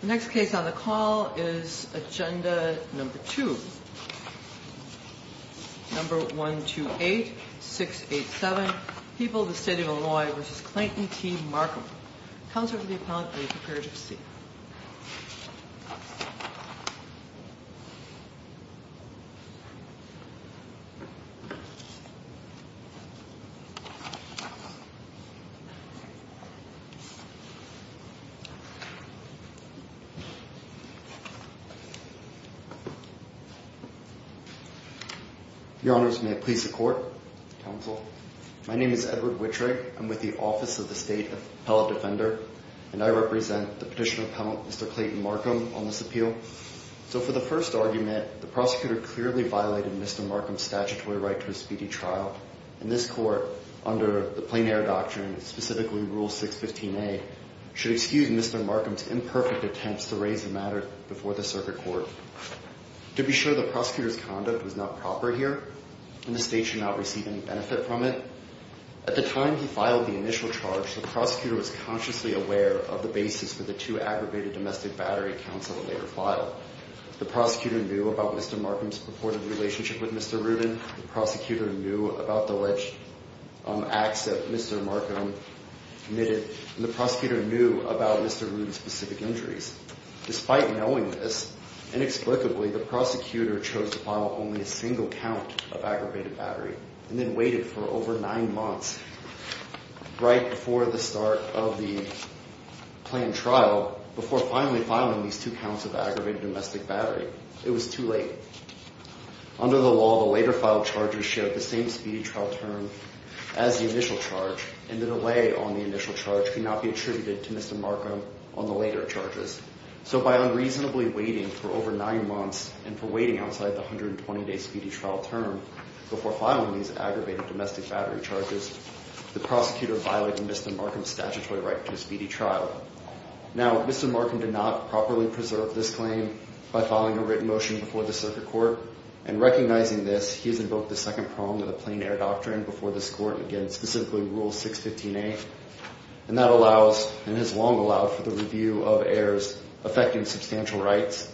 The next case on the call is Agenda No. 2 No. 128-687 People of the State of Illinois v. Clayton T. Marcum Counselor to the Appellant be prepared to receive Your Honors, may I please the court? Counsel? My name is Edward Wittrig, I'm with the Office of the State Appellant Defender, and I represent the petitioner appellant Mr. Clayton Marcum on this appeal. So for the first argument, the prosecutor clearly violated Mr. Marcum's statutory right to a speedy trial, and this court, under the plein air doctrine, specifically Rule 615A, should excuse Mr. Marcum's imperfect attempts to raise the matter before the circuit court. To be sure, the prosecutor's conduct was not proper here, and the state should not receive any benefit from it. At the time he filed the initial charge, the prosecutor was consciously aware of the basis for the two aggravated domestic battery counts of a later file. The prosecutor knew about Mr. Marcum's purported relationship with Mr. Rubin, the prosecutor knew about the alleged acts that Mr. Marcum committed, and the prosecutor knew about Mr. Rubin's specific injuries. Despite knowing this, inexplicably, the prosecutor chose to file only a single count of aggravated battery, and then waited for over nine months, right before the start of the planned trial, before finally filing these two counts of aggravated domestic battery. It was too late. Under the law, the later filed charges shared the same speedy trial term as the initial charge, and the delay on the initial charge could not be attributed to Mr. Marcum on the later charges. So by unreasonably waiting for over nine months, and for waiting outside the 120-day speedy trial term, before filing these aggravated domestic battery charges, the prosecutor violated Mr. Marcum's statutory right to a speedy trial. Now, Mr. Marcum did not properly preserve this claim by filing a written motion before the circuit court, and recognizing this, he has invoked the second prong of the plain air doctrine before this court, again, specifically Rule 615A, and that allows, and has long allowed for the review of errors affecting substantial rights.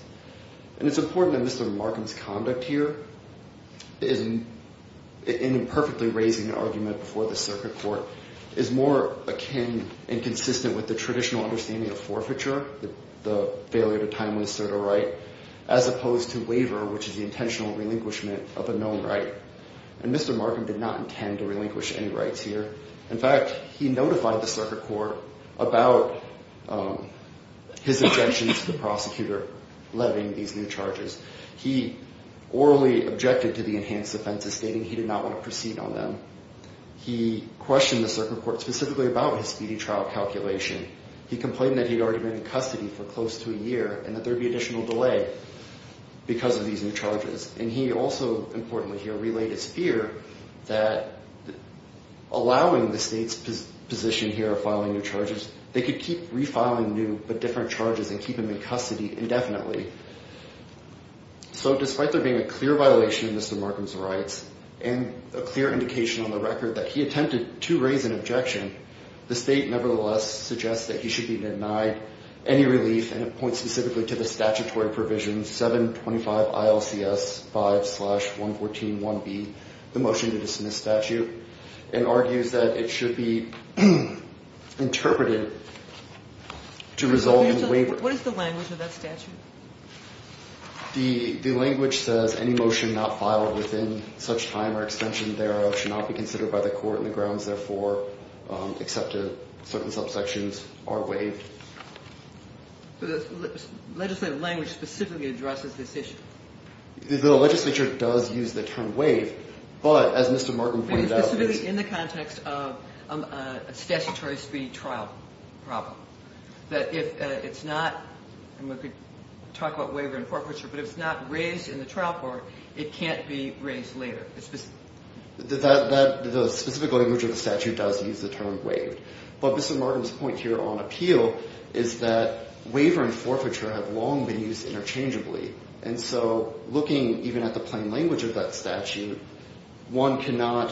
And it's important that Mr. Marcum's conduct here, in imperfectly raising an argument before the circuit court, is more akin and consistent with the traditional understanding of forfeiture, the failure to time with a certain right, as opposed to waiver, which is the intentional relinquishment of a known right. And Mr. Marcum did not intend to relinquish any rights here. In fact, he notified the circuit court about his objections to the prosecutor levying these new charges. He orally objected to the enhanced offenses, stating he did not want to proceed on them. He questioned the circuit court specifically about his speedy trial calculation. He complained that he had already been in custody for close to a year and that there would be additional delay because of these new charges. And he also, importantly here, relayed his fear that allowing the state's position here of filing new charges, they could keep refiling new but different charges and keep him in custody indefinitely. So despite there being a clear violation of Mr. Marcum's rights and a clear indication on the record that he attempted to raise an objection, the state nevertheless suggests that he should be denied any relief. And it points specifically to the statutory provision 725 ILCS 5 slash 114 1B, the motion to dismiss statute, and argues that it should be interpreted to resolve the waiver. What is the language of that statute? The language says any motion not filed within such time or extension thereof should not be considered by the court in the grounds, therefore, except certain subsections are waived. So the legislative language specifically addresses this issue? The legislature does use the term waive, but as Mr. Marcum pointed out, it's... We could talk about waiver and forfeiture, but if it's not raised in the trial court, it can't be raised later. The specific language of the statute does use the term waive. But Mr. Marcum's point here on appeal is that waiver and forfeiture have long been used interchangeably. And so looking even at the plain language of that statute, one cannot...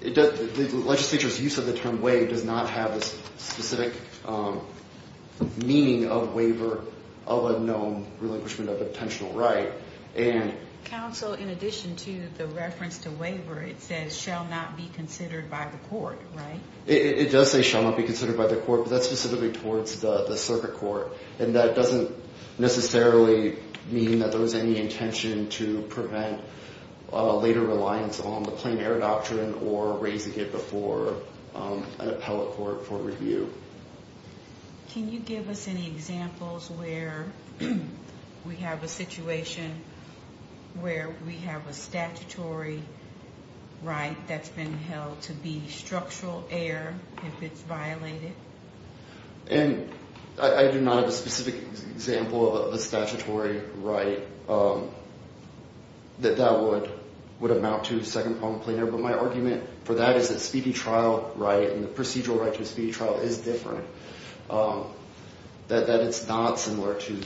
The legislature's use of the term waive does not have a specific meaning of waiver of a known relinquishment of a potential right. Counsel, in addition to the reference to waiver, it says shall not be considered by the court, right? It does say shall not be considered by the court, but that's specifically towards the circuit court. And that doesn't necessarily mean that there was any intention to prevent later reliance on the plain error doctrine or raising it before an appellate court for review. Can you give us any examples where we have a situation where we have a statutory right that's been held to be structural error if it's violated? And I do not have a specific example of a statutory right that that would amount to second problem plain error. But my argument for that is that speedy trial right and the procedural right to a speedy trial is different. That it's not similar to,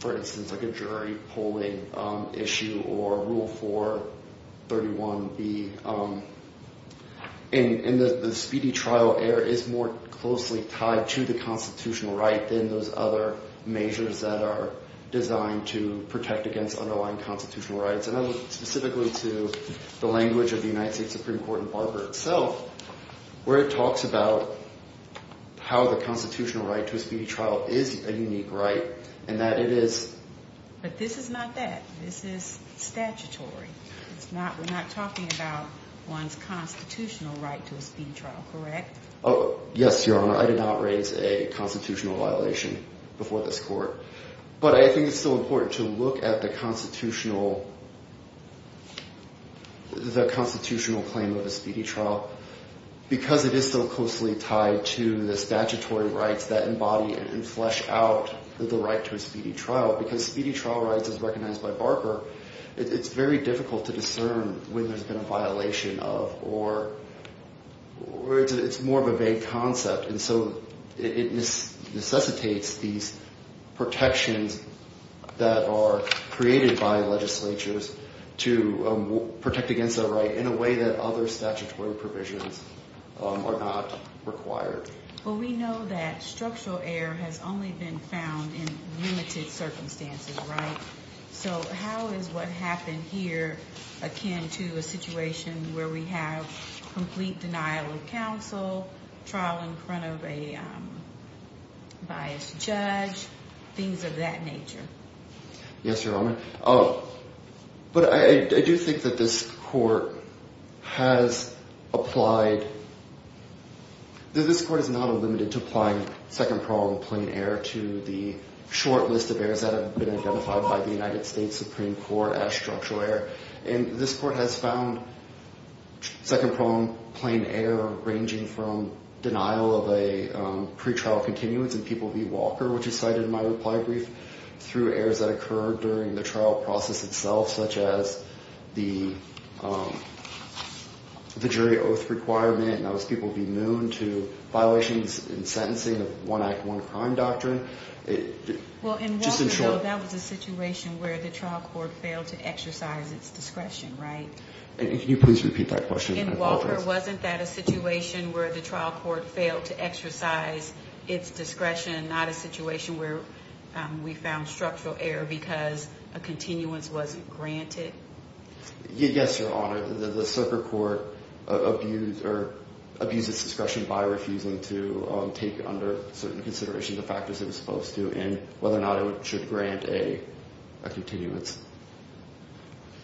for instance, like a jury polling issue or Rule 431B. And the speedy trial error is more closely tied to the constitutional right than those other measures that are designed to protect against underlying constitutional rights. And I look specifically to the language of the United States Supreme Court in Barber itself where it talks about how the constitutional right to a speedy trial is a unique right and that it is. But this is not that. This is statutory. It's not we're not talking about one's constitutional right to a speedy trial, correct? Oh, yes, Your Honor. I did not raise a constitutional violation before this court. But I think it's still important to look at the constitutional claim of a speedy trial because it is so closely tied to the statutory rights that embody and flesh out the right to a speedy trial. Because speedy trial rights, as recognized by Barber, it's very difficult to discern when there's been a violation of or it's more of a vague concept. And so it necessitates these protections that are created by legislatures to protect against a right in a way that other statutory provisions are not required. Well, we know that structural error has only been found in limited circumstances, right? So how is what happened here akin to a situation where we have complete denial of counsel, trial in front of a biased judge, things of that nature? Yes, Your Honor. But I do think that this court has applied. This court is not limited to applying second prong plain error to the short list of errors that have been identified by the United States Supreme Court as structural error. And this court has found second prong plain error ranging from denial of a pretrial continuance in People v. Walker, which is cited in my reply brief, through errors that occurred during the trial process itself, such as the jury oath requirement, and that was People v. Moon, to violations in sentencing of one act, one crime doctrine. Well, in Walker, though, that was a situation where the trial court failed to exercise its discretion, right? And can you please repeat that question? In Walker, wasn't that a situation where the trial court failed to exercise its discretion, not a situation where we found structural error because a continuance wasn't granted? Yes, Your Honor. The circuit court abused its discretion by refusing to take under certain consideration the factors it was supposed to and whether or not it should grant a continuance.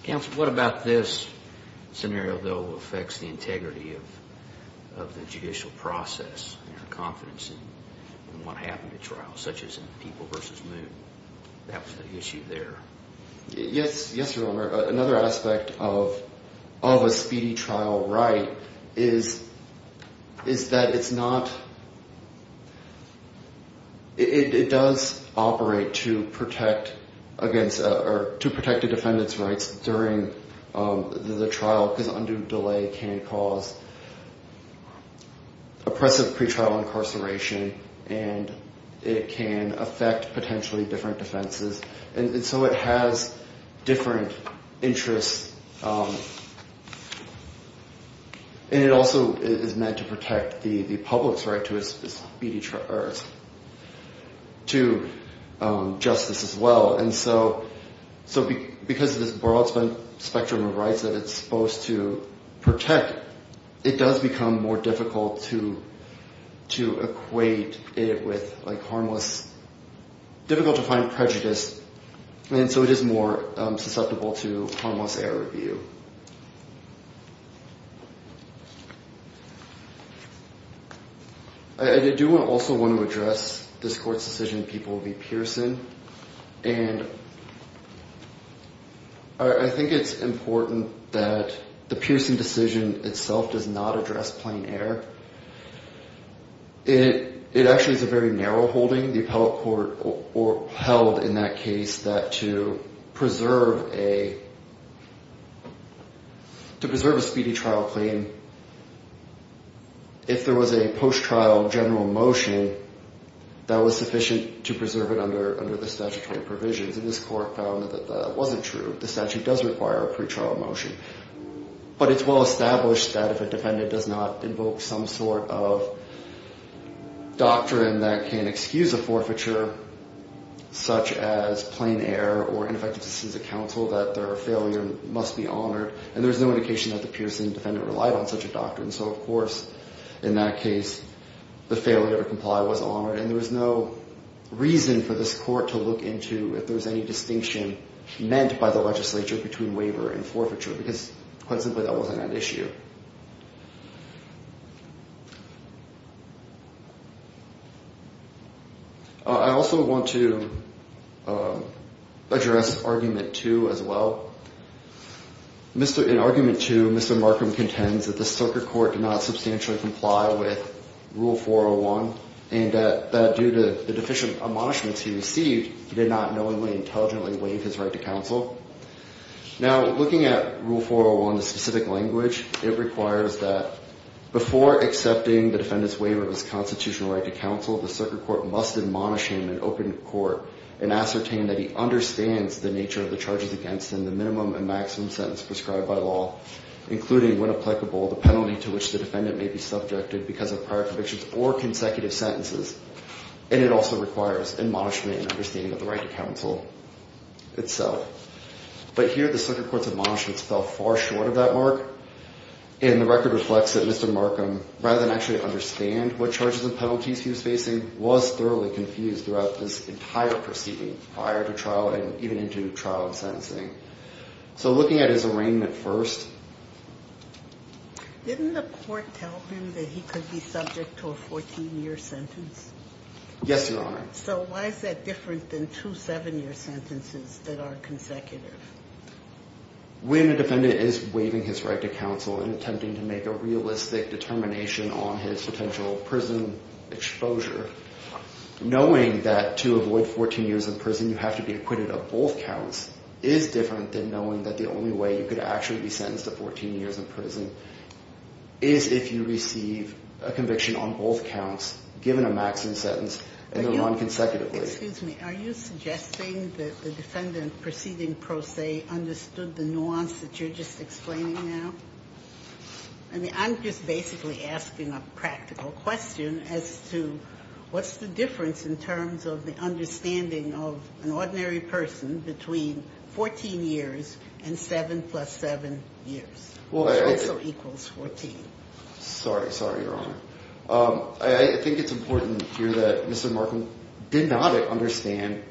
Counsel, what about this scenario, though, affects the integrity of the judicial process and confidence in what happened at trial, such as in People v. Moon? That was the issue there. Yes, Your Honor. Another aspect of a speedy trial right is that it's not – it does operate to protect against – or to protect a defendant's rights during the trial because undue delay can cause oppressive pretrial incarceration and it can affect potentially different defenses. And so it has different interests, and it also is meant to protect the public's right to justice as well. And so because of this broad spectrum of rights that it's supposed to protect, it does become more difficult to equate it with, like, harmless – difficult to find prejudice, and so it is more susceptible to harmless error review. I do also want to address this court's decision in People v. Pearson, and I think it's important that the Pearson decision itself does not address plain error. It actually is a very narrow holding. The appellate court held in that case that to preserve a speedy trial claim, if there was a post-trial general motion, that was sufficient to preserve it under the statutory provisions, and this court found that that wasn't true. The statute does require a pretrial motion, but it's well-established that if a defendant does not invoke some sort of doctrine that can excuse a forfeiture, such as plain error or ineffective decision to counsel, that their failure must be honored, and there's no indication that the Pearson defendant relied on such a doctrine. So, of course, in that case, the failure to comply was honored, and there was no reason for this court to look into if there was any distinction meant by the legislature between waiver and forfeiture, because quite simply, that wasn't an issue. I also want to address Argument 2 as well. In Argument 2, Mr. Markham contends that the circuit court did not substantially comply with Rule 401, and that due to the deficient admonishments he received, he did not knowingly, intelligently waive his right to counsel. Now, looking at Rule 401, the specific language, it requires that before accepting the defendant's waiver of his constitutional right to counsel, the circuit court must admonish him in open court and ascertain that he understands the nature of the charges against him, the minimum and maximum sentence prescribed by law, including, when applicable, the penalty to which the defendant may be subjected because of prior convictions or consecutive sentences, and it also requires admonishment and understanding of the right to counsel itself. But here, the circuit court's admonishments fell far short of that mark, and the record reflects that Mr. Markham, rather than actually understand what charges and penalties he was facing, was thoroughly confused throughout this entire proceeding, prior to trial and even into trial and sentencing. So, looking at his arraignment first... Didn't the court tell him that he could be subject to a 14-year sentence? Yes, Your Honor. So, why is that different than two 7-year sentences that are consecutive? When a defendant is waiving his right to counsel and attempting to make a realistic determination on his potential prison exposure, knowing that to avoid 14 years in prison, you have to be acquitted of both counts, is different than knowing that the only way you could actually be sentenced to 14 years in prison is if you receive a conviction on both counts, given a maximum sentence. Excuse me. Are you suggesting that the defendant proceeding pro se understood the nuance that you're just explaining now? I mean, I'm just basically asking a practical question as to what's the difference in terms of the understanding of an ordinary person between 14 years and 7 plus 7 years, which also equals 14. Sorry. Sorry, Your Honor. I think it's important here that Mr. Markham did not understand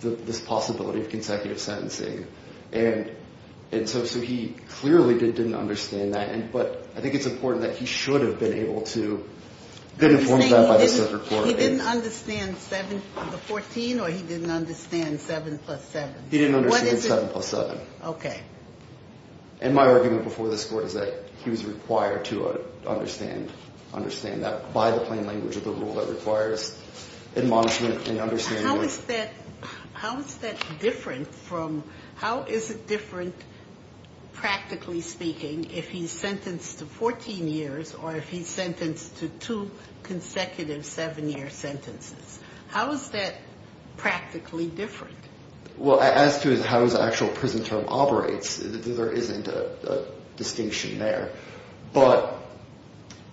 this possibility of consecutive sentencing. And so he clearly didn't understand that. But I think it's important that he should have been able to get informed of that by the circuit court. He didn't understand the 14 or he didn't understand 7 plus 7? He didn't understand 7 plus 7. Okay. And my argument before this court is that he was required to understand that by the plain language of the rule that requires admonishment and understanding. How is that different from – how is it different, practically speaking, if he's sentenced to 14 years or if he's sentenced to two consecutive 7-year sentences? How is that practically different? Well, as to how his actual prison term operates, there isn't a distinction there. But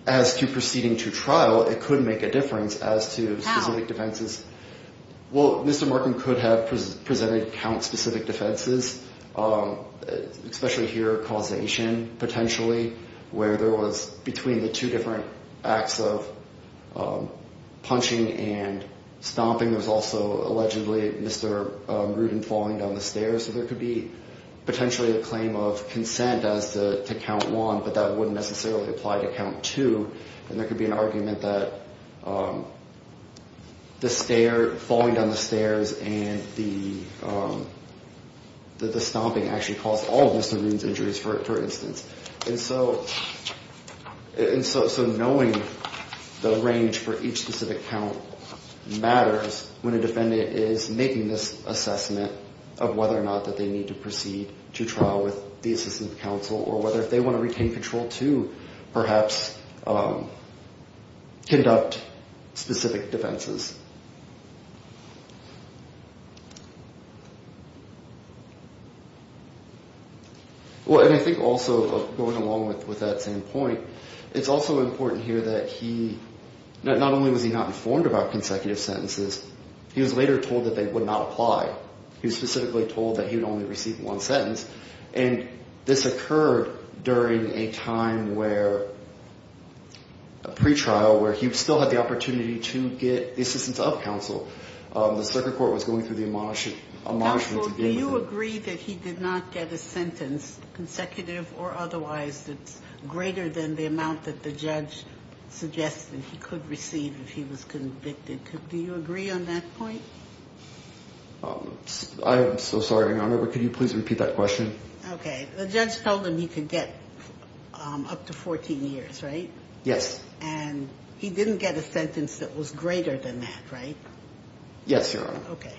as to proceeding to trial, it could make a difference as to specific defenses. How? There was – between the two different acts of punching and stomping, there was also allegedly Mr. Rudin falling down the stairs. So there could be potentially a claim of consent as to count one, but that wouldn't necessarily apply to count two. And there could be an argument that the stair – falling down the stairs and the stomping actually caused all of Mr. Rudin's injuries, for instance. And so knowing the range for each specific count matters when a defendant is making this assessment of whether or not that they need to proceed to trial with the assistant counsel or whether if they want to retain control to perhaps conduct specific defenses. Well, and I think also going along with that same point, it's also important here that he – not only was he not informed about consecutive sentences, he was later told that they would not apply. He was specifically told that he would only receive one sentence. And this occurred during a time where – a pretrial where he still had the opportunity to get assistance of counsel. The circuit court was going through the admonishments. Counsel, do you agree that he did not get a sentence consecutive or otherwise that's greater than the amount that the judge suggested he could receive if he was convicted? Do you agree on that point? I'm so sorry, Your Honor, but could you please repeat that question? Okay. The judge told him he could get up to 14 years, right? Yes. And he didn't get a sentence that was greater than that, right? Yes, Your Honor. Okay.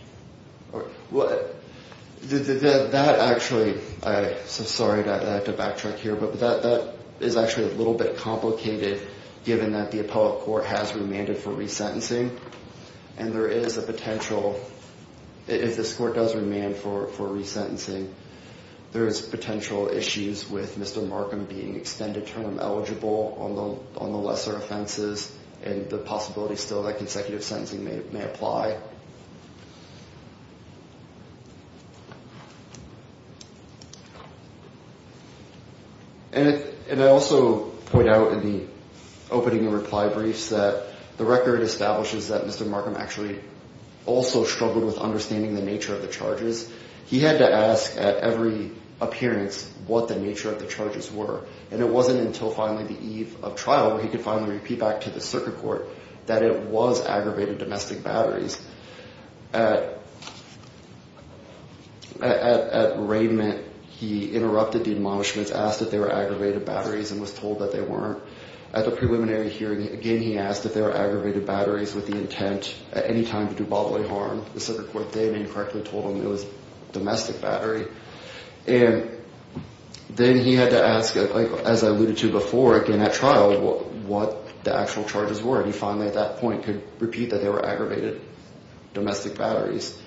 That actually – I'm so sorry to backtrack here, but that is actually a little bit complicated given that the appellate court has remanded for resentencing. And there is a potential – if this court does remand for resentencing, there is potential issues with Mr. Markham being extended term eligible on the lesser offenses and the possibility still that consecutive sentencing may apply. And I also point out in the opening reply briefs that the record establishes that Mr. Markham actually also struggled with understanding the nature of the charges. He had to ask at every appearance what the nature of the charges were. And it wasn't until finally the eve of trial where he could finally repeat back to the circuit court that it was aggravated domestic batteries. At arraignment, he interrupted the admonishments, asked if they were aggravated batteries and was told that they weren't. At the preliminary hearing, again, he asked if they were aggravated batteries with the intent at any time to do bodily harm. The circuit court then incorrectly told him it was domestic battery. And then he had to ask, as I alluded to before, again at trial, what the actual charges were. And he finally at that point could repeat that they were aggravated domestic batteries.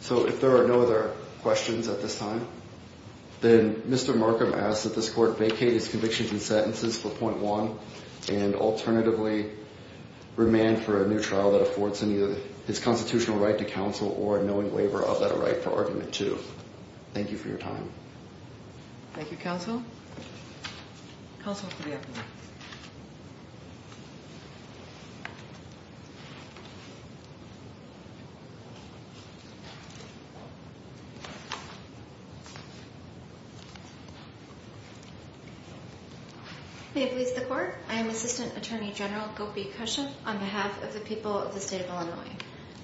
So if there are no other questions at this time, then Mr. Markham asked that this court vacate his convictions and sentences for point one and alternatively remand for a new trial that affords him his constitutional right to counsel or a knowing waiver of that right for argument two. Thank you for your time. Thank you, counsel. Counsel, please. May it please the court. I am Assistant Attorney General Gopi Kusum on behalf of the people of the state of Illinois.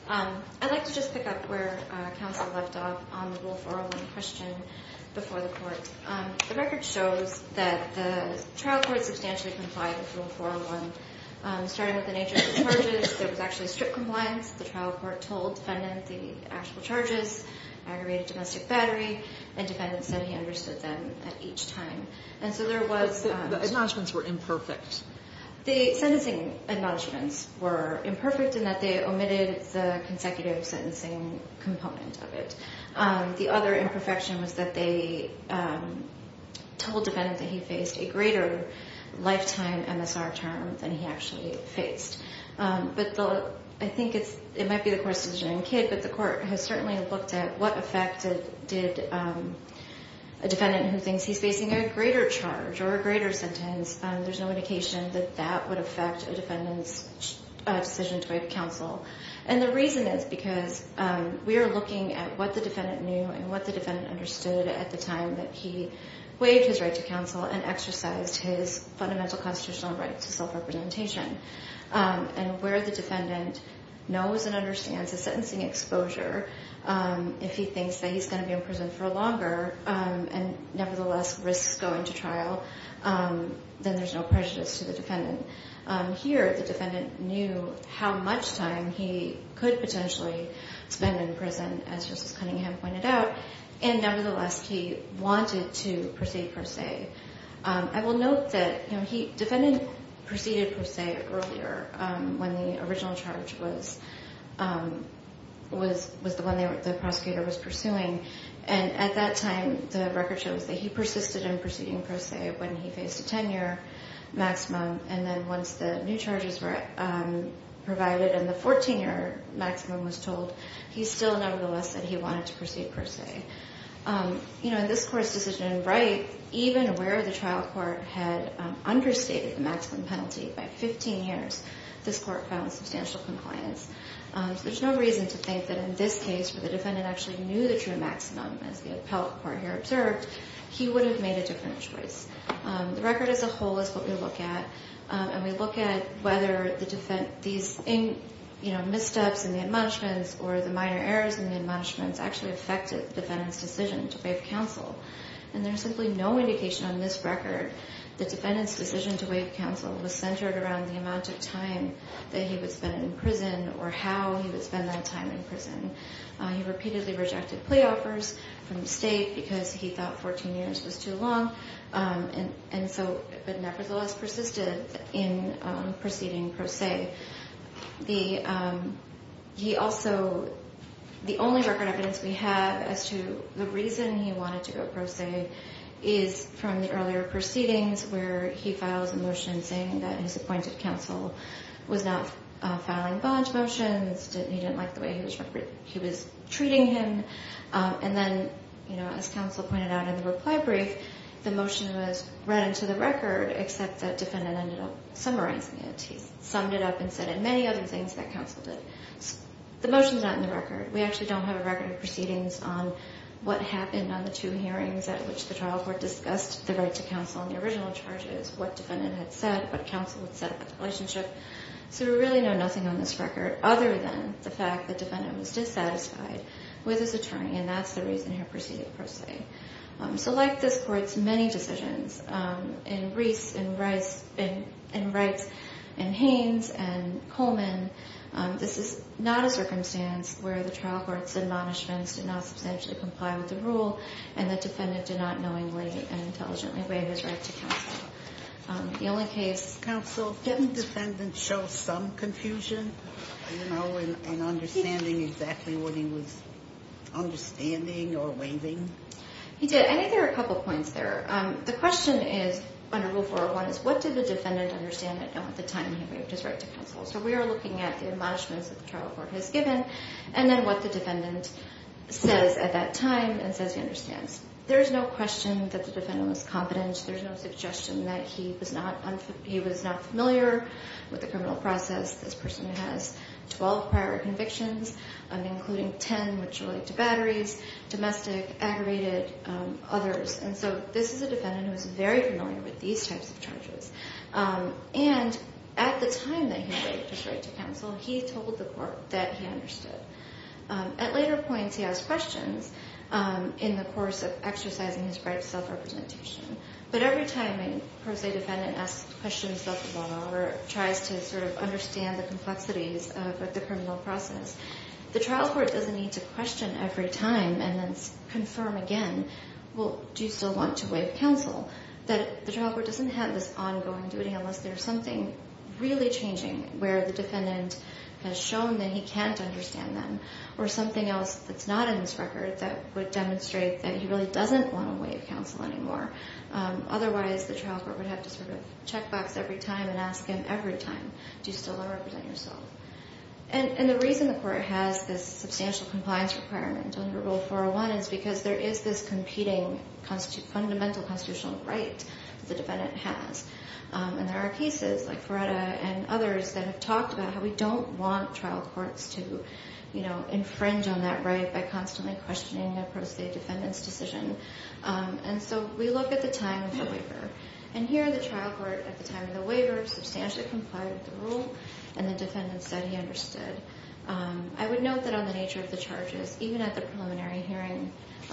I'd like to just pick up where counsel left off on the rule 401 question before the court. The record shows that the trial court substantially complied with rule 401. Starting with the nature of the charges, there was actually strip compliance. The trial court told defendant the actual charges, aggravated domestic battery, and defendant said he understood them at each time. And so there was... The acknowledgments were imperfect. The sentencing acknowledgments were imperfect in that they omitted the consecutive sentencing component of it. The other imperfection was that they told defendant that he faced a greater lifetime MSR term than he actually faced. But I think it might be the court's decision as a kid, but the court has certainly looked at what effect did a defendant who thinks he's facing a greater charge or a greater sentence, there's no indication that that would affect a defendant's decision to waive counsel. And the reason is because we are looking at what the defendant knew and what the defendant understood at the time that he waived his right to counsel and exercised his fundamental constitutional right to self-representation. And where the defendant knows and understands the sentencing exposure, if he thinks that he's going to be in prison for longer and nevertheless risks going to trial, then there's no prejudice to the defendant. Here, the defendant knew how much time he could potentially spend in prison, as Justice Cunningham pointed out. And nevertheless, he wanted to proceed per se. I will note that defendant proceeded per se earlier when the original charge was the one the prosecutor was pursuing. And at that time, the record shows that he persisted in proceeding per se when he faced a 10-year maximum. And then once the new charges were provided and the 14-year maximum was told, he still nevertheless said he wanted to proceed per se. In this court's decision in Wright, even where the trial court had understated the maximum penalty by 15 years, this court found substantial compliance. There's no reason to think that in this case, where the defendant actually knew the true maximum, as the appellate court here observed, he would have made a different choice. The record as a whole is what we look at, and we look at whether these missteps in the admonishments or the minor errors in the admonishments actually affected the defendant's decision to waive counsel. And there's simply no indication on this record the defendant's decision to waive counsel was centered around the amount of time that he would spend in prison or how he would spend that time in prison. He repeatedly rejected plea offers from the state because he thought 14 years was too long, but nevertheless persisted in proceeding per se. The only record evidence we have as to the reason he wanted to go per se is from the earlier proceedings where he files a motion saying that his appointed counsel was not filing bond motions, he didn't like the way he was treating him. And then, as counsel pointed out in the reply brief, the motion was read into the record, except that defendant ended up summarizing it. He summed it up and said many other things that counsel did. The motion's not in the record. We actually don't have a record of proceedings on what happened on the two hearings at which the trial court discussed the right to counsel and the original charges, what defendant had said, what counsel had said about the relationship. So we really know nothing on this record other than the fact that defendant was dissatisfied with his attorney, and that's the reason he proceeded per se. So like this court's many decisions, in Reese, in Wrights, in Haynes, and Coleman, this is not a circumstance where the trial court's admonishments did not substantially comply with the rule, and the defendant did not knowingly and intelligently waive his right to counsel. The only case... He did. I think there are a couple points there. The question is, under Rule 401, is what did the defendant understand at the time he waived his right to counsel? So we are looking at the admonishments that the trial court has given and then what the defendant says at that time and says he understands. There's no question that the defendant was confident. There's no suggestion that he was not familiar with the criminal process. This person has 12 prior convictions, including 10 which relate to batteries, domestic, aggravated, others. And so this is a defendant who is very familiar with these types of charges. And at the time that he waived his right to counsel, he told the court that he understood. At later points, he asked questions in the course of exercising his right to self-representation. But every time a pro se defendant asks questions about the law or tries to sort of understand the complexities of the criminal process, the trial court doesn't need to question every time and then confirm again, well, do you still want to waive counsel? The trial court doesn't have this ongoing duty unless there's something really changing where the defendant has shown that he can't understand them or something else that's not in his record that would demonstrate that he really doesn't want to waive counsel anymore. Otherwise, the trial court would have to sort of checkbox every time and ask him every time, do you still want to represent yourself? And the reason the court has this substantial compliance requirement under Rule 401 is because there is this competing fundamental constitutional right the defendant has. And there are pieces like Feretta and others that have talked about how we don't want trial courts to infringe on that right by constantly questioning a pro se defendant's decision. And so we look at the time of the waiver. And here, the trial court, at the time of the waiver, substantially complied with the rule, and the defendant said he understood. I would note that on the nature of the charges, even at the preliminary hearing,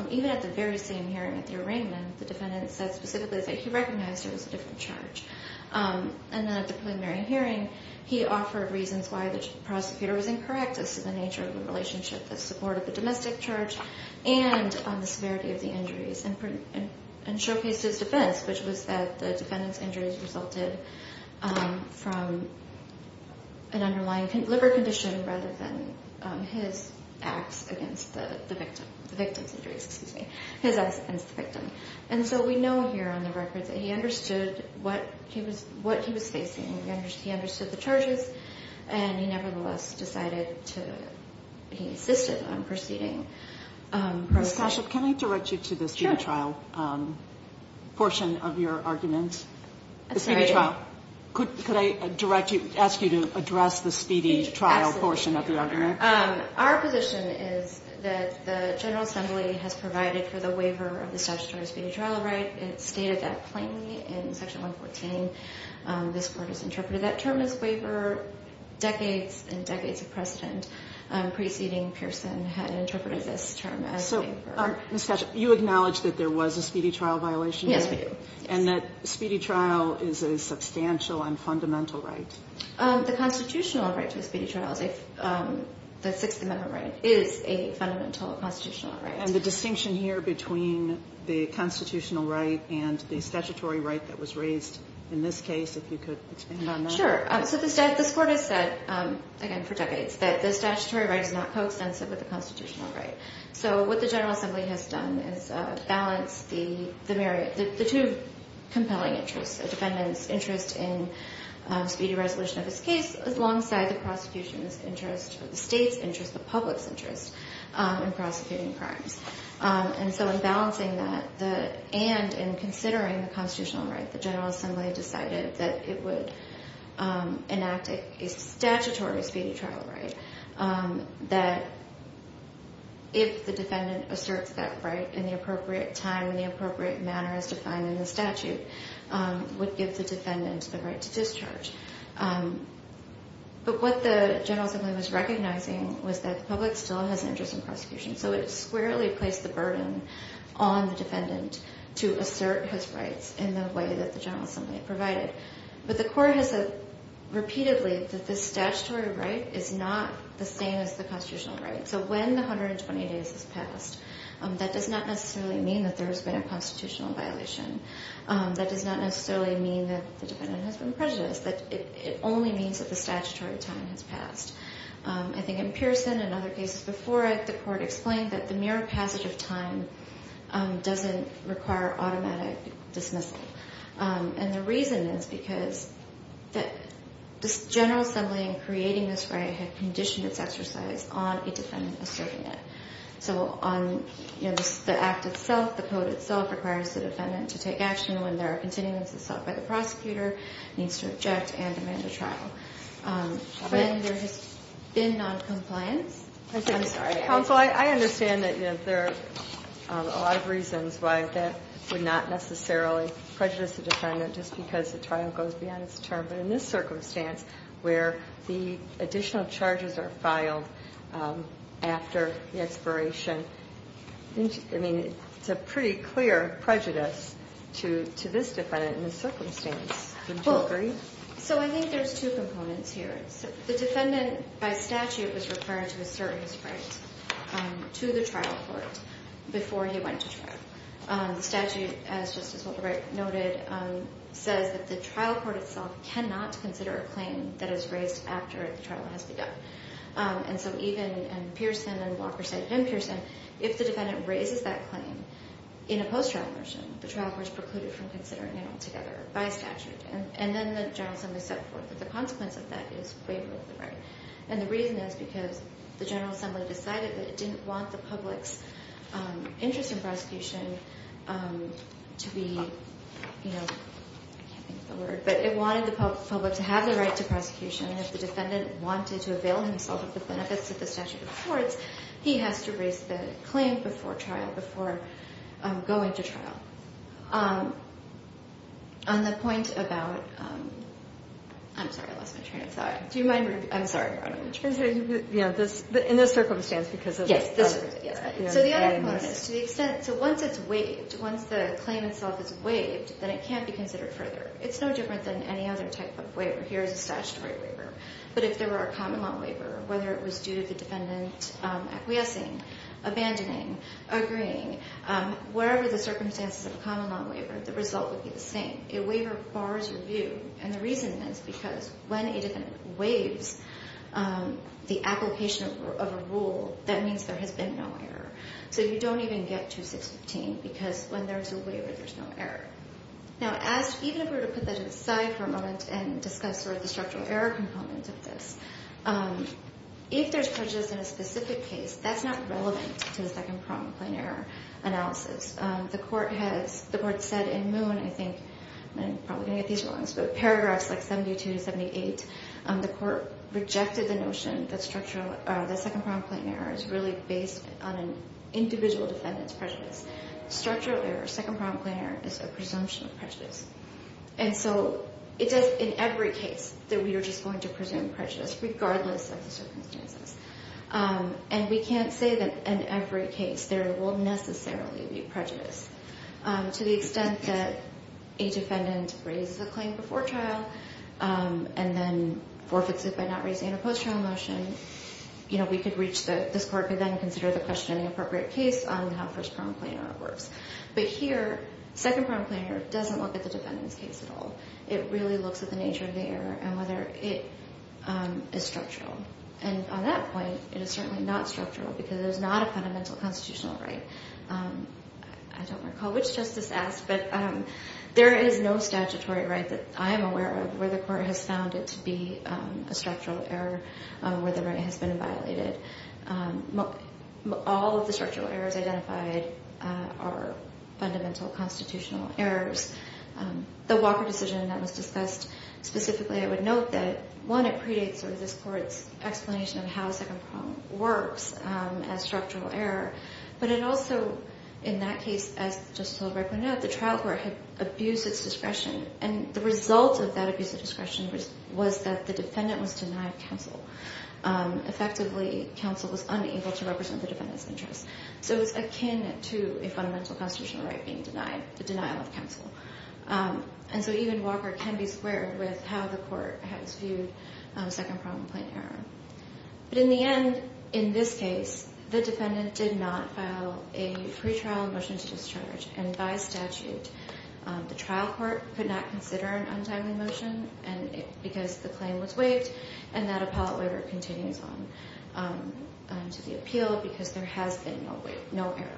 even at the very same hearing at the arraignment, the defendant said specifically that he recognized it was a different charge. And then at the preliminary hearing, he offered reasons why the prosecutor was incorrect as to the nature of the relationship that supported the domestic charge and the severity of the injuries and showcased his defense, which was that the defendant's injuries resulted from an underlying liver condition rather than his acts against the victim, the victim's injuries, excuse me, his acts against the victim. And so we know here on the record that he understood what he was facing. He understood the charges, and he nevertheless decided to be insistent on proceeding. Ms. Cashel, can I direct you to the speedy trial portion of your argument? The speedy trial. Could I ask you to address the speedy trial portion of the argument? Absolutely. Our position is that the General Assembly has provided for the waiver of the statutory speedy trial right. It stated that plainly in Section 114. This Court has interpreted that term as waiver. Decades and decades of precedent preceding Pearson had interpreted this term as waiver. So, Ms. Cashel, you acknowledge that there was a speedy trial violation? Yes, we do. And that speedy trial is a substantial and fundamental right? The constitutional right to a speedy trial, the Sixth Amendment right, is a fundamental constitutional right. And the distinction here between the constitutional right and the statutory right that was raised in this case, if you could expand on that? Sure. So this Court has said, again, for decades, that the statutory right is not coextensive with the constitutional right. So what the General Assembly has done is balance the two compelling interests, a defendant's interest in speedy resolution of his case alongside the prosecution's interest, the state's interest, the public's interest in prosecuting crimes. And so in balancing that and in considering the constitutional right, the General Assembly decided that it would enact a statutory speedy trial right, that if the defendant asserts that right in the appropriate time and the appropriate manner as defined in the statute, would give the defendant the right to discharge. But what the General Assembly was recognizing was that the public still has an interest in prosecution, so it squarely placed the burden on the defendant to assert his rights in the way that the General Assembly provided. But the Court has said repeatedly that the statutory right is not the same as the constitutional right. So when the 120 days has passed, that does not necessarily mean that there has been a constitutional violation. That does not necessarily mean that the defendant has been prejudiced. I think in Pearson and other cases before it, the Court explained that the mere passage of time doesn't require automatic dismissal. And the reason is because the General Assembly in creating this right had conditioned its exercise on a defendant asserting it. So on the act itself, the code itself requires the defendant to take action when there are continuances sought by the prosecutor, when there has been noncompliance. I'm sorry. Counsel, I understand that there are a lot of reasons why that would not necessarily prejudice the defendant, just because the trial goes beyond its term. But in this circumstance where the additional charges are filed after the expiration, I mean, it's a pretty clear prejudice to this defendant in this circumstance. Would you agree? So I think there's two components here. The defendant by statute was required to assert his right to the trial court before he went to trial. The statute, just as Walter Wright noted, says that the trial court itself cannot consider a claim that is raised after the trial has begun. And so even in Pearson, and Walker said in Pearson, if the defendant raises that claim in a post-trial version, the trial court is precluded from considering it altogether by statute. And then the General Assembly set forth that the consequence of that is waiver of the right. And the reason is because the General Assembly decided that it didn't want the public's interest in prosecution to be, you know, I can't think of the word, but it wanted the public to have the right to prosecution. And if the defendant wanted to avail himself of the benefits of the statute of courts, he has to raise the claim before trial, before going to trial. On the point about, I'm sorry, I lost my train of thought. Do you mind? I'm sorry. In this circumstance, because of this. Yes. So the other point is to the extent, so once it's waived, once the claim itself is waived, then it can't be considered further. It's no different than any other type of waiver. Here is a statutory waiver. But if there were a common law waiver, whether it was due to the defendant acquiescing, abandoning, agreeing, wherever the circumstances of a common law waiver, the result would be the same. A waiver bars your view. And the reason is because when a defendant waives the application of a rule, that means there has been no error. So you don't even get 2615 because when there's a waiver, there's no error. Now, even if we were to put that aside for a moment and discuss sort of the structural error component of this, if there's prejudice in a specific case, that's not relevant to the second-pronged plain error analysis. The Court has, the Court said in Moon, I think, I'm probably going to get these wrong, but paragraphs like 72 to 78, the Court rejected the notion that second-pronged plain error is really based on an individual defendant's prejudice. Structural error, second-pronged plain error, is a presumption of prejudice. And so it does, in every case, that we are just going to presume prejudice, regardless of the circumstances. And we can't say that in every case there will necessarily be prejudice. To the extent that a defendant raises a claim before trial and then forfeits it by not raising a post-trial motion, you know, we could reach the, this Court could then consider the question in the appropriate case on how first-pronged plain error works. But here, second-pronged plain error doesn't look at the defendant's case at all. It really looks at the nature of the error and whether it is structural. And on that point, it is certainly not structural because it is not a fundamental constitutional right. I don't recall which justice asked, but there is no statutory right that I am aware of where the Court has found it to be a structural error, where the right has been violated. All of the structural errors identified are fundamental constitutional errors. The Walker decision that was discussed specifically, I would note that, one, it predates sort of this Court's explanation of how second-pronged works as structural error. But it also, in that case, as Justice O'Rourke pointed out, the trial court had abused its discretion. And the result of that abuse of discretion was that the defendant was denied counsel. Effectively, counsel was unable to represent the defendant's interests. So it was akin to a fundamental constitutional right being denied, the denial of counsel. And so even Walker can be squared with how the Court has viewed second-pronged plain error. But in the end, in this case, the defendant did not file a pretrial motion to discharge. And by statute, the trial court could not consider an untimely motion because the claim was waived, and that appellate waiver continues on to the appeal because there has been no error.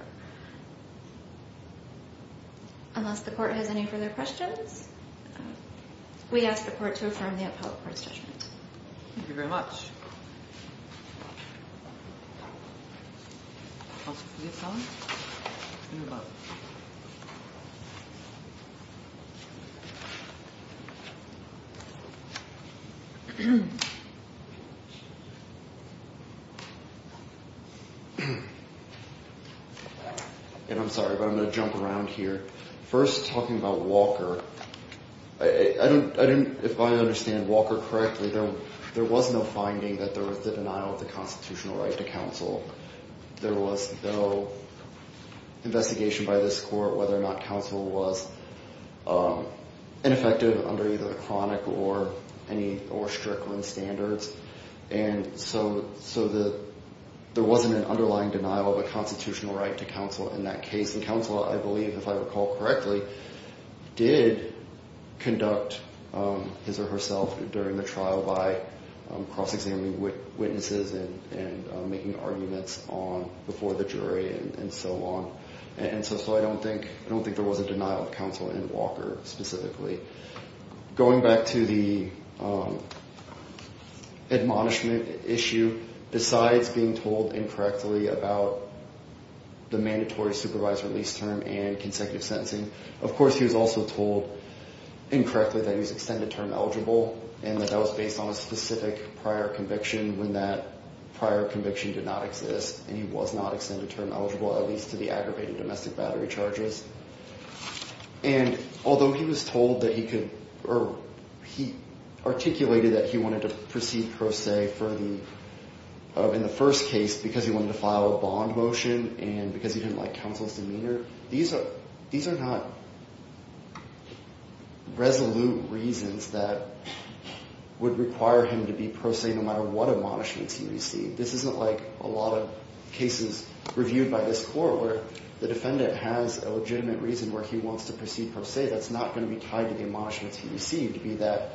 Unless the Court has any further questions, we ask the Court to affirm the appellate court's judgment. Thank you very much. And I'm sorry, but I'm going to jump around here. First, talking about Walker, I didn't, if I understand Walker correctly, there was no finding that there was the denial of the constitutional right to counsel. There was no investigation by this Court whether or not counsel was ineffective under either the chronic or any or stricter standards. And so there wasn't an underlying denial of a constitutional right to counsel in that case. And counsel, I believe, if I recall correctly, did conduct his or herself during the trial by cross-examining witnesses and making arguments before the jury and so on. And so I don't think there was a denial of counsel in Walker specifically. Going back to the admonishment issue, besides being told incorrectly about the mandatory supervisor lease term and consecutive sentencing, of course he was also told incorrectly that he was extended term eligible and that that was based on a specific prior conviction when that prior conviction did not exist and he was not extended term eligible, at least to the aggravated domestic battery charges. And although he was told that he could, or he articulated that he wanted to proceed pro se for the, in the first case because he wanted to file a bond motion and because he didn't like counsel's demeanor, these are not resolute reasons that would require him to be pro se no matter what admonishments he received. This isn't like a lot of cases reviewed by this Court where the defendant has a legitimate reason where he wants to proceed pro se that's not going to be tied to the admonishments he received, be that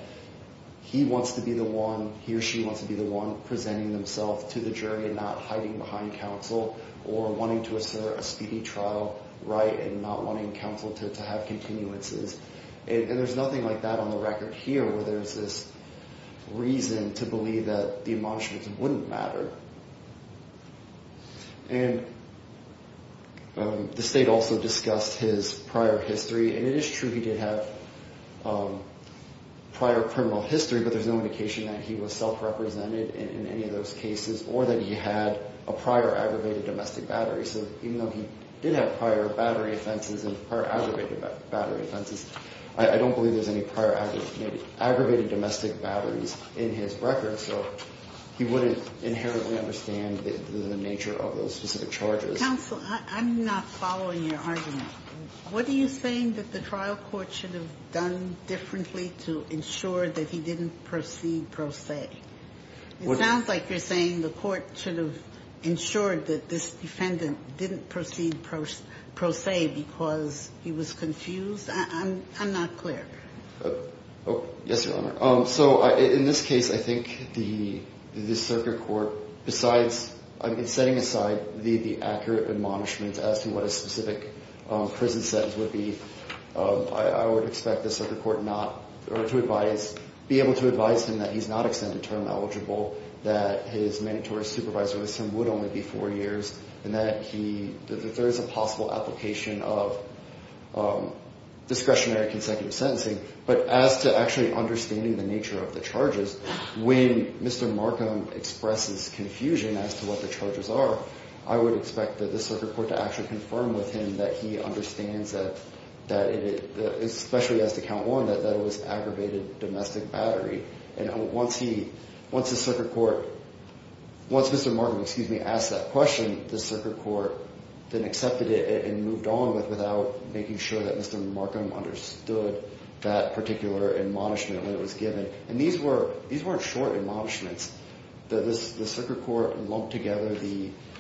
he wants to be the one, he or she wants to be the one presenting themselves to the jury and not hiding behind counsel or wanting to assert a speedy trial right and not wanting counsel to have continuances. And there's nothing like that on the record here where there's this reason to believe that the admonishments wouldn't matter. And the State also discussed his prior history and it is true he did have prior criminal history but there's no indication that he was self-represented in any of those cases or that he had a prior aggravated domestic battery. So even though he did have prior battery offenses and prior aggravated battery offenses, I don't believe there's any prior aggravated domestic batteries in his record so he wouldn't inherently understand the nature of those specific charges. Counsel, I'm not following your argument. What are you saying that the trial court should have done differently to ensure that he didn't proceed pro se? It sounds like you're saying the court should have ensured that this defendant didn't proceed pro se because he was confused. I'm not clear. Yes, Your Honor. So in this case I think the circuit court besides setting aside the accurate admonishments as to what a specific prison sentence would be, I would expect the circuit court to be able to advise him that he's not extended term eligible, that his mandatory supervisor with him would only be four years, and that there is a possible application of discretionary consecutive sentencing. But as to actually understanding the nature of the charges, when Mr. Markham expresses confusion as to what the charges are, I would expect the circuit court to actually confirm with him that he understands that, especially as to count one, that it was aggravated domestic battery. And once Mr. Markham asked that question, the circuit court then accepted it and moved on without making sure that Mr. Markham understood that particular admonishment when it was given. And these weren't short admonishments. The circuit court lumped together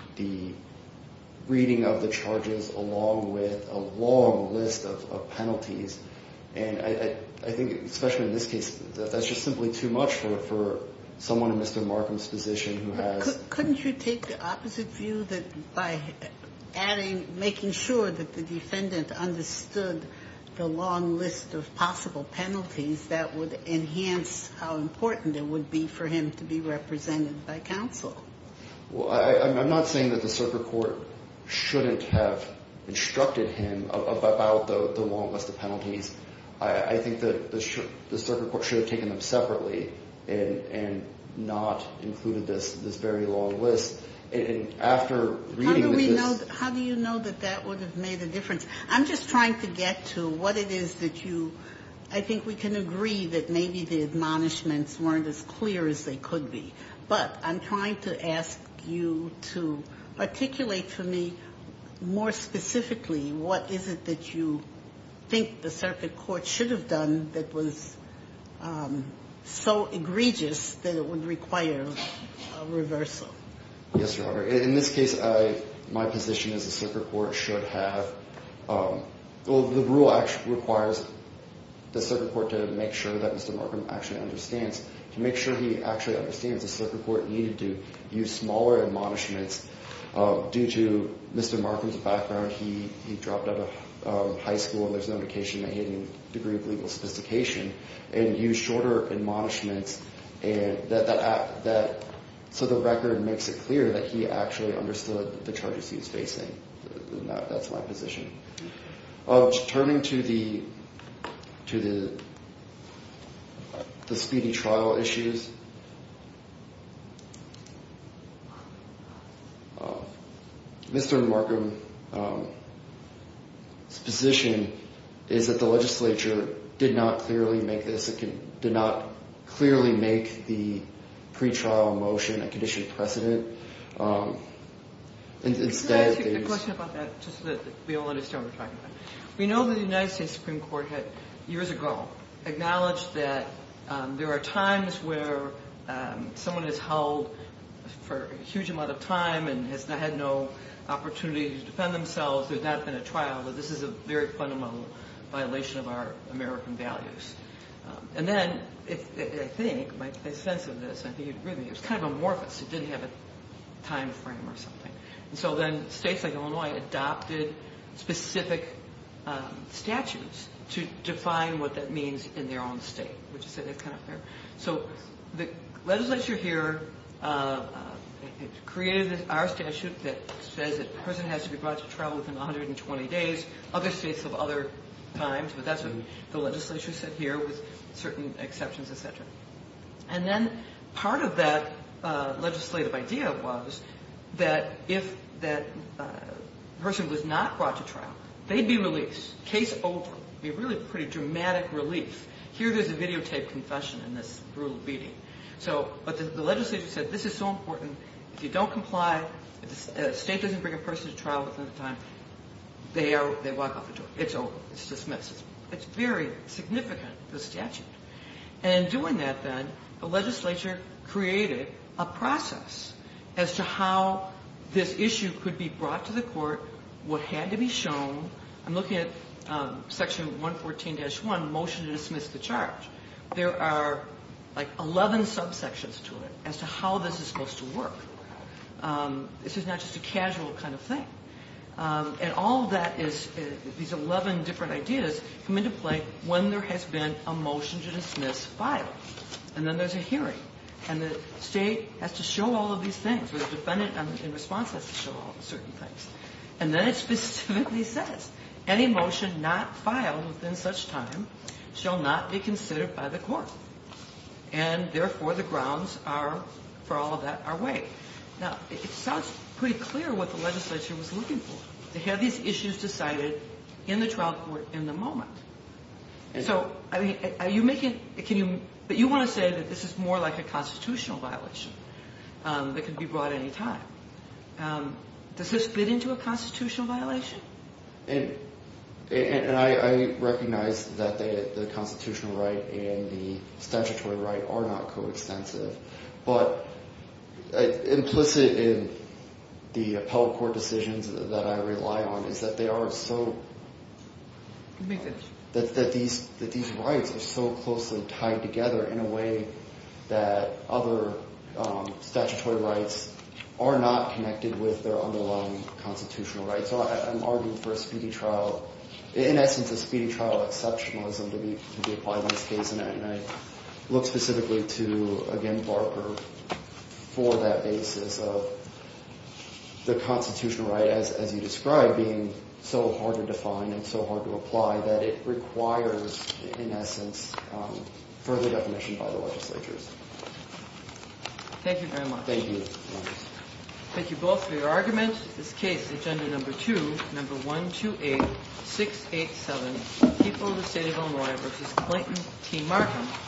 the reading of the charges along with a long list of penalties, and I think especially in this case, that's just simply too much for someone in Mr. Markham's position who has ---- Couldn't you take the opposite view that by adding, making sure that the defendant understood the long list of possible penalties that would enhance how important it would be for him to be represented by counsel? Well, I'm not saying that the circuit court shouldn't have instructed him about the long list of penalties. I think that the circuit court should have taken them separately and not included this very long list. And after reading this ---- How do you know that that would have made a difference? I'm just trying to get to what it is that you ---- I think we can agree that maybe the admonishments weren't as clear as they could be. But I'm trying to ask you to articulate to me more specifically what is it that you think the circuit court should have done that was so egregious that it would require a reversal. Yes, Your Honor. In this case, my position is the circuit court should have ---- Well, the rule actually requires the circuit court to make sure that Mr. Markham actually understands. To make sure he actually understands, the circuit court needed to use smaller admonishments due to Mr. Markham's background. He dropped out of high school and there's no indication that he had any degree of legal sophistication and use shorter admonishments so the record makes it clear that he actually understood the charges he was facing. That's my position. Turning to the speedy trial issues, Mr. Markham's position is that the legislature did not clearly make this, did not clearly make the pretrial motion a conditioned precedent. Can I ask you a question about that just so that we all understand what we're talking about? We know that the United States Supreme Court had, years ago, acknowledged that there are times where someone is held for a huge amount of time and has had no opportunity to defend themselves. There's not been a trial. This is a very fundamental violation of our American values. And then, I think, my sense of this, I think you'd agree with me, it was kind of amorphous. It didn't have a time frame or something. And so then states like Illinois adopted specific statutes to define what that means in their own state. Would you say that's kind of fair? So the legislature here created our statute that says that a person has to be brought to trial within 120 days. Other states have other times, but that's what the legislature said here with certain exceptions, et cetera. And then part of that legislative idea was that if that person was not brought to trial, they'd be released. Case over. It would be a really pretty dramatic relief. Here there's a videotaped confession in this brutal beating. But the legislature said this is so important. If you don't comply, if the state doesn't bring a person to trial within the time, they walk out the door. It's over. It's dismissed. It's very significant, this statute. And in doing that, then, the legislature created a process as to how this issue could be brought to the court, what had to be shown. I'm looking at section 114-1, motion to dismiss the charge. There are, like, 11 subsections to it as to how this is supposed to work. This is not just a casual kind of thing. And all of that is these 11 different ideas come into play when there has been a motion to dismiss filed. And then there's a hearing. And the state has to show all of these things. The defendant in response has to show all the certain things. And then it specifically says, any motion not filed within such time shall not be considered by the court. And, therefore, the grounds for all of that are way. Now, it sounds pretty clear what the legislature was looking for. They had these issues decided in the trial court in the moment. So, I mean, are you making, can you, but you want to say that this is more like a constitutional violation that could be brought any time. Does this fit into a constitutional violation? And I recognize that the constitutional right and the statutory right are not coextensive. But implicit in the appellate court decisions that I rely on is that they are so, that these rights are so closely tied together in a way that other statutory rights are not connected with their underlying constitutional rights. So I'm arguing for a speedy trial, in essence, a speedy trial exceptionalism to be applied in this case. And I look specifically to, again, Barker for that basis of the constitutional right, as you described, being so hard to define and so hard to apply that it requires, in essence, further definition by the legislatures. Thank you very much. Thank you. Thank you both for your argument. This case, agenda number two, number 128687, People of the State of Illinois v. Clinton T. Martin.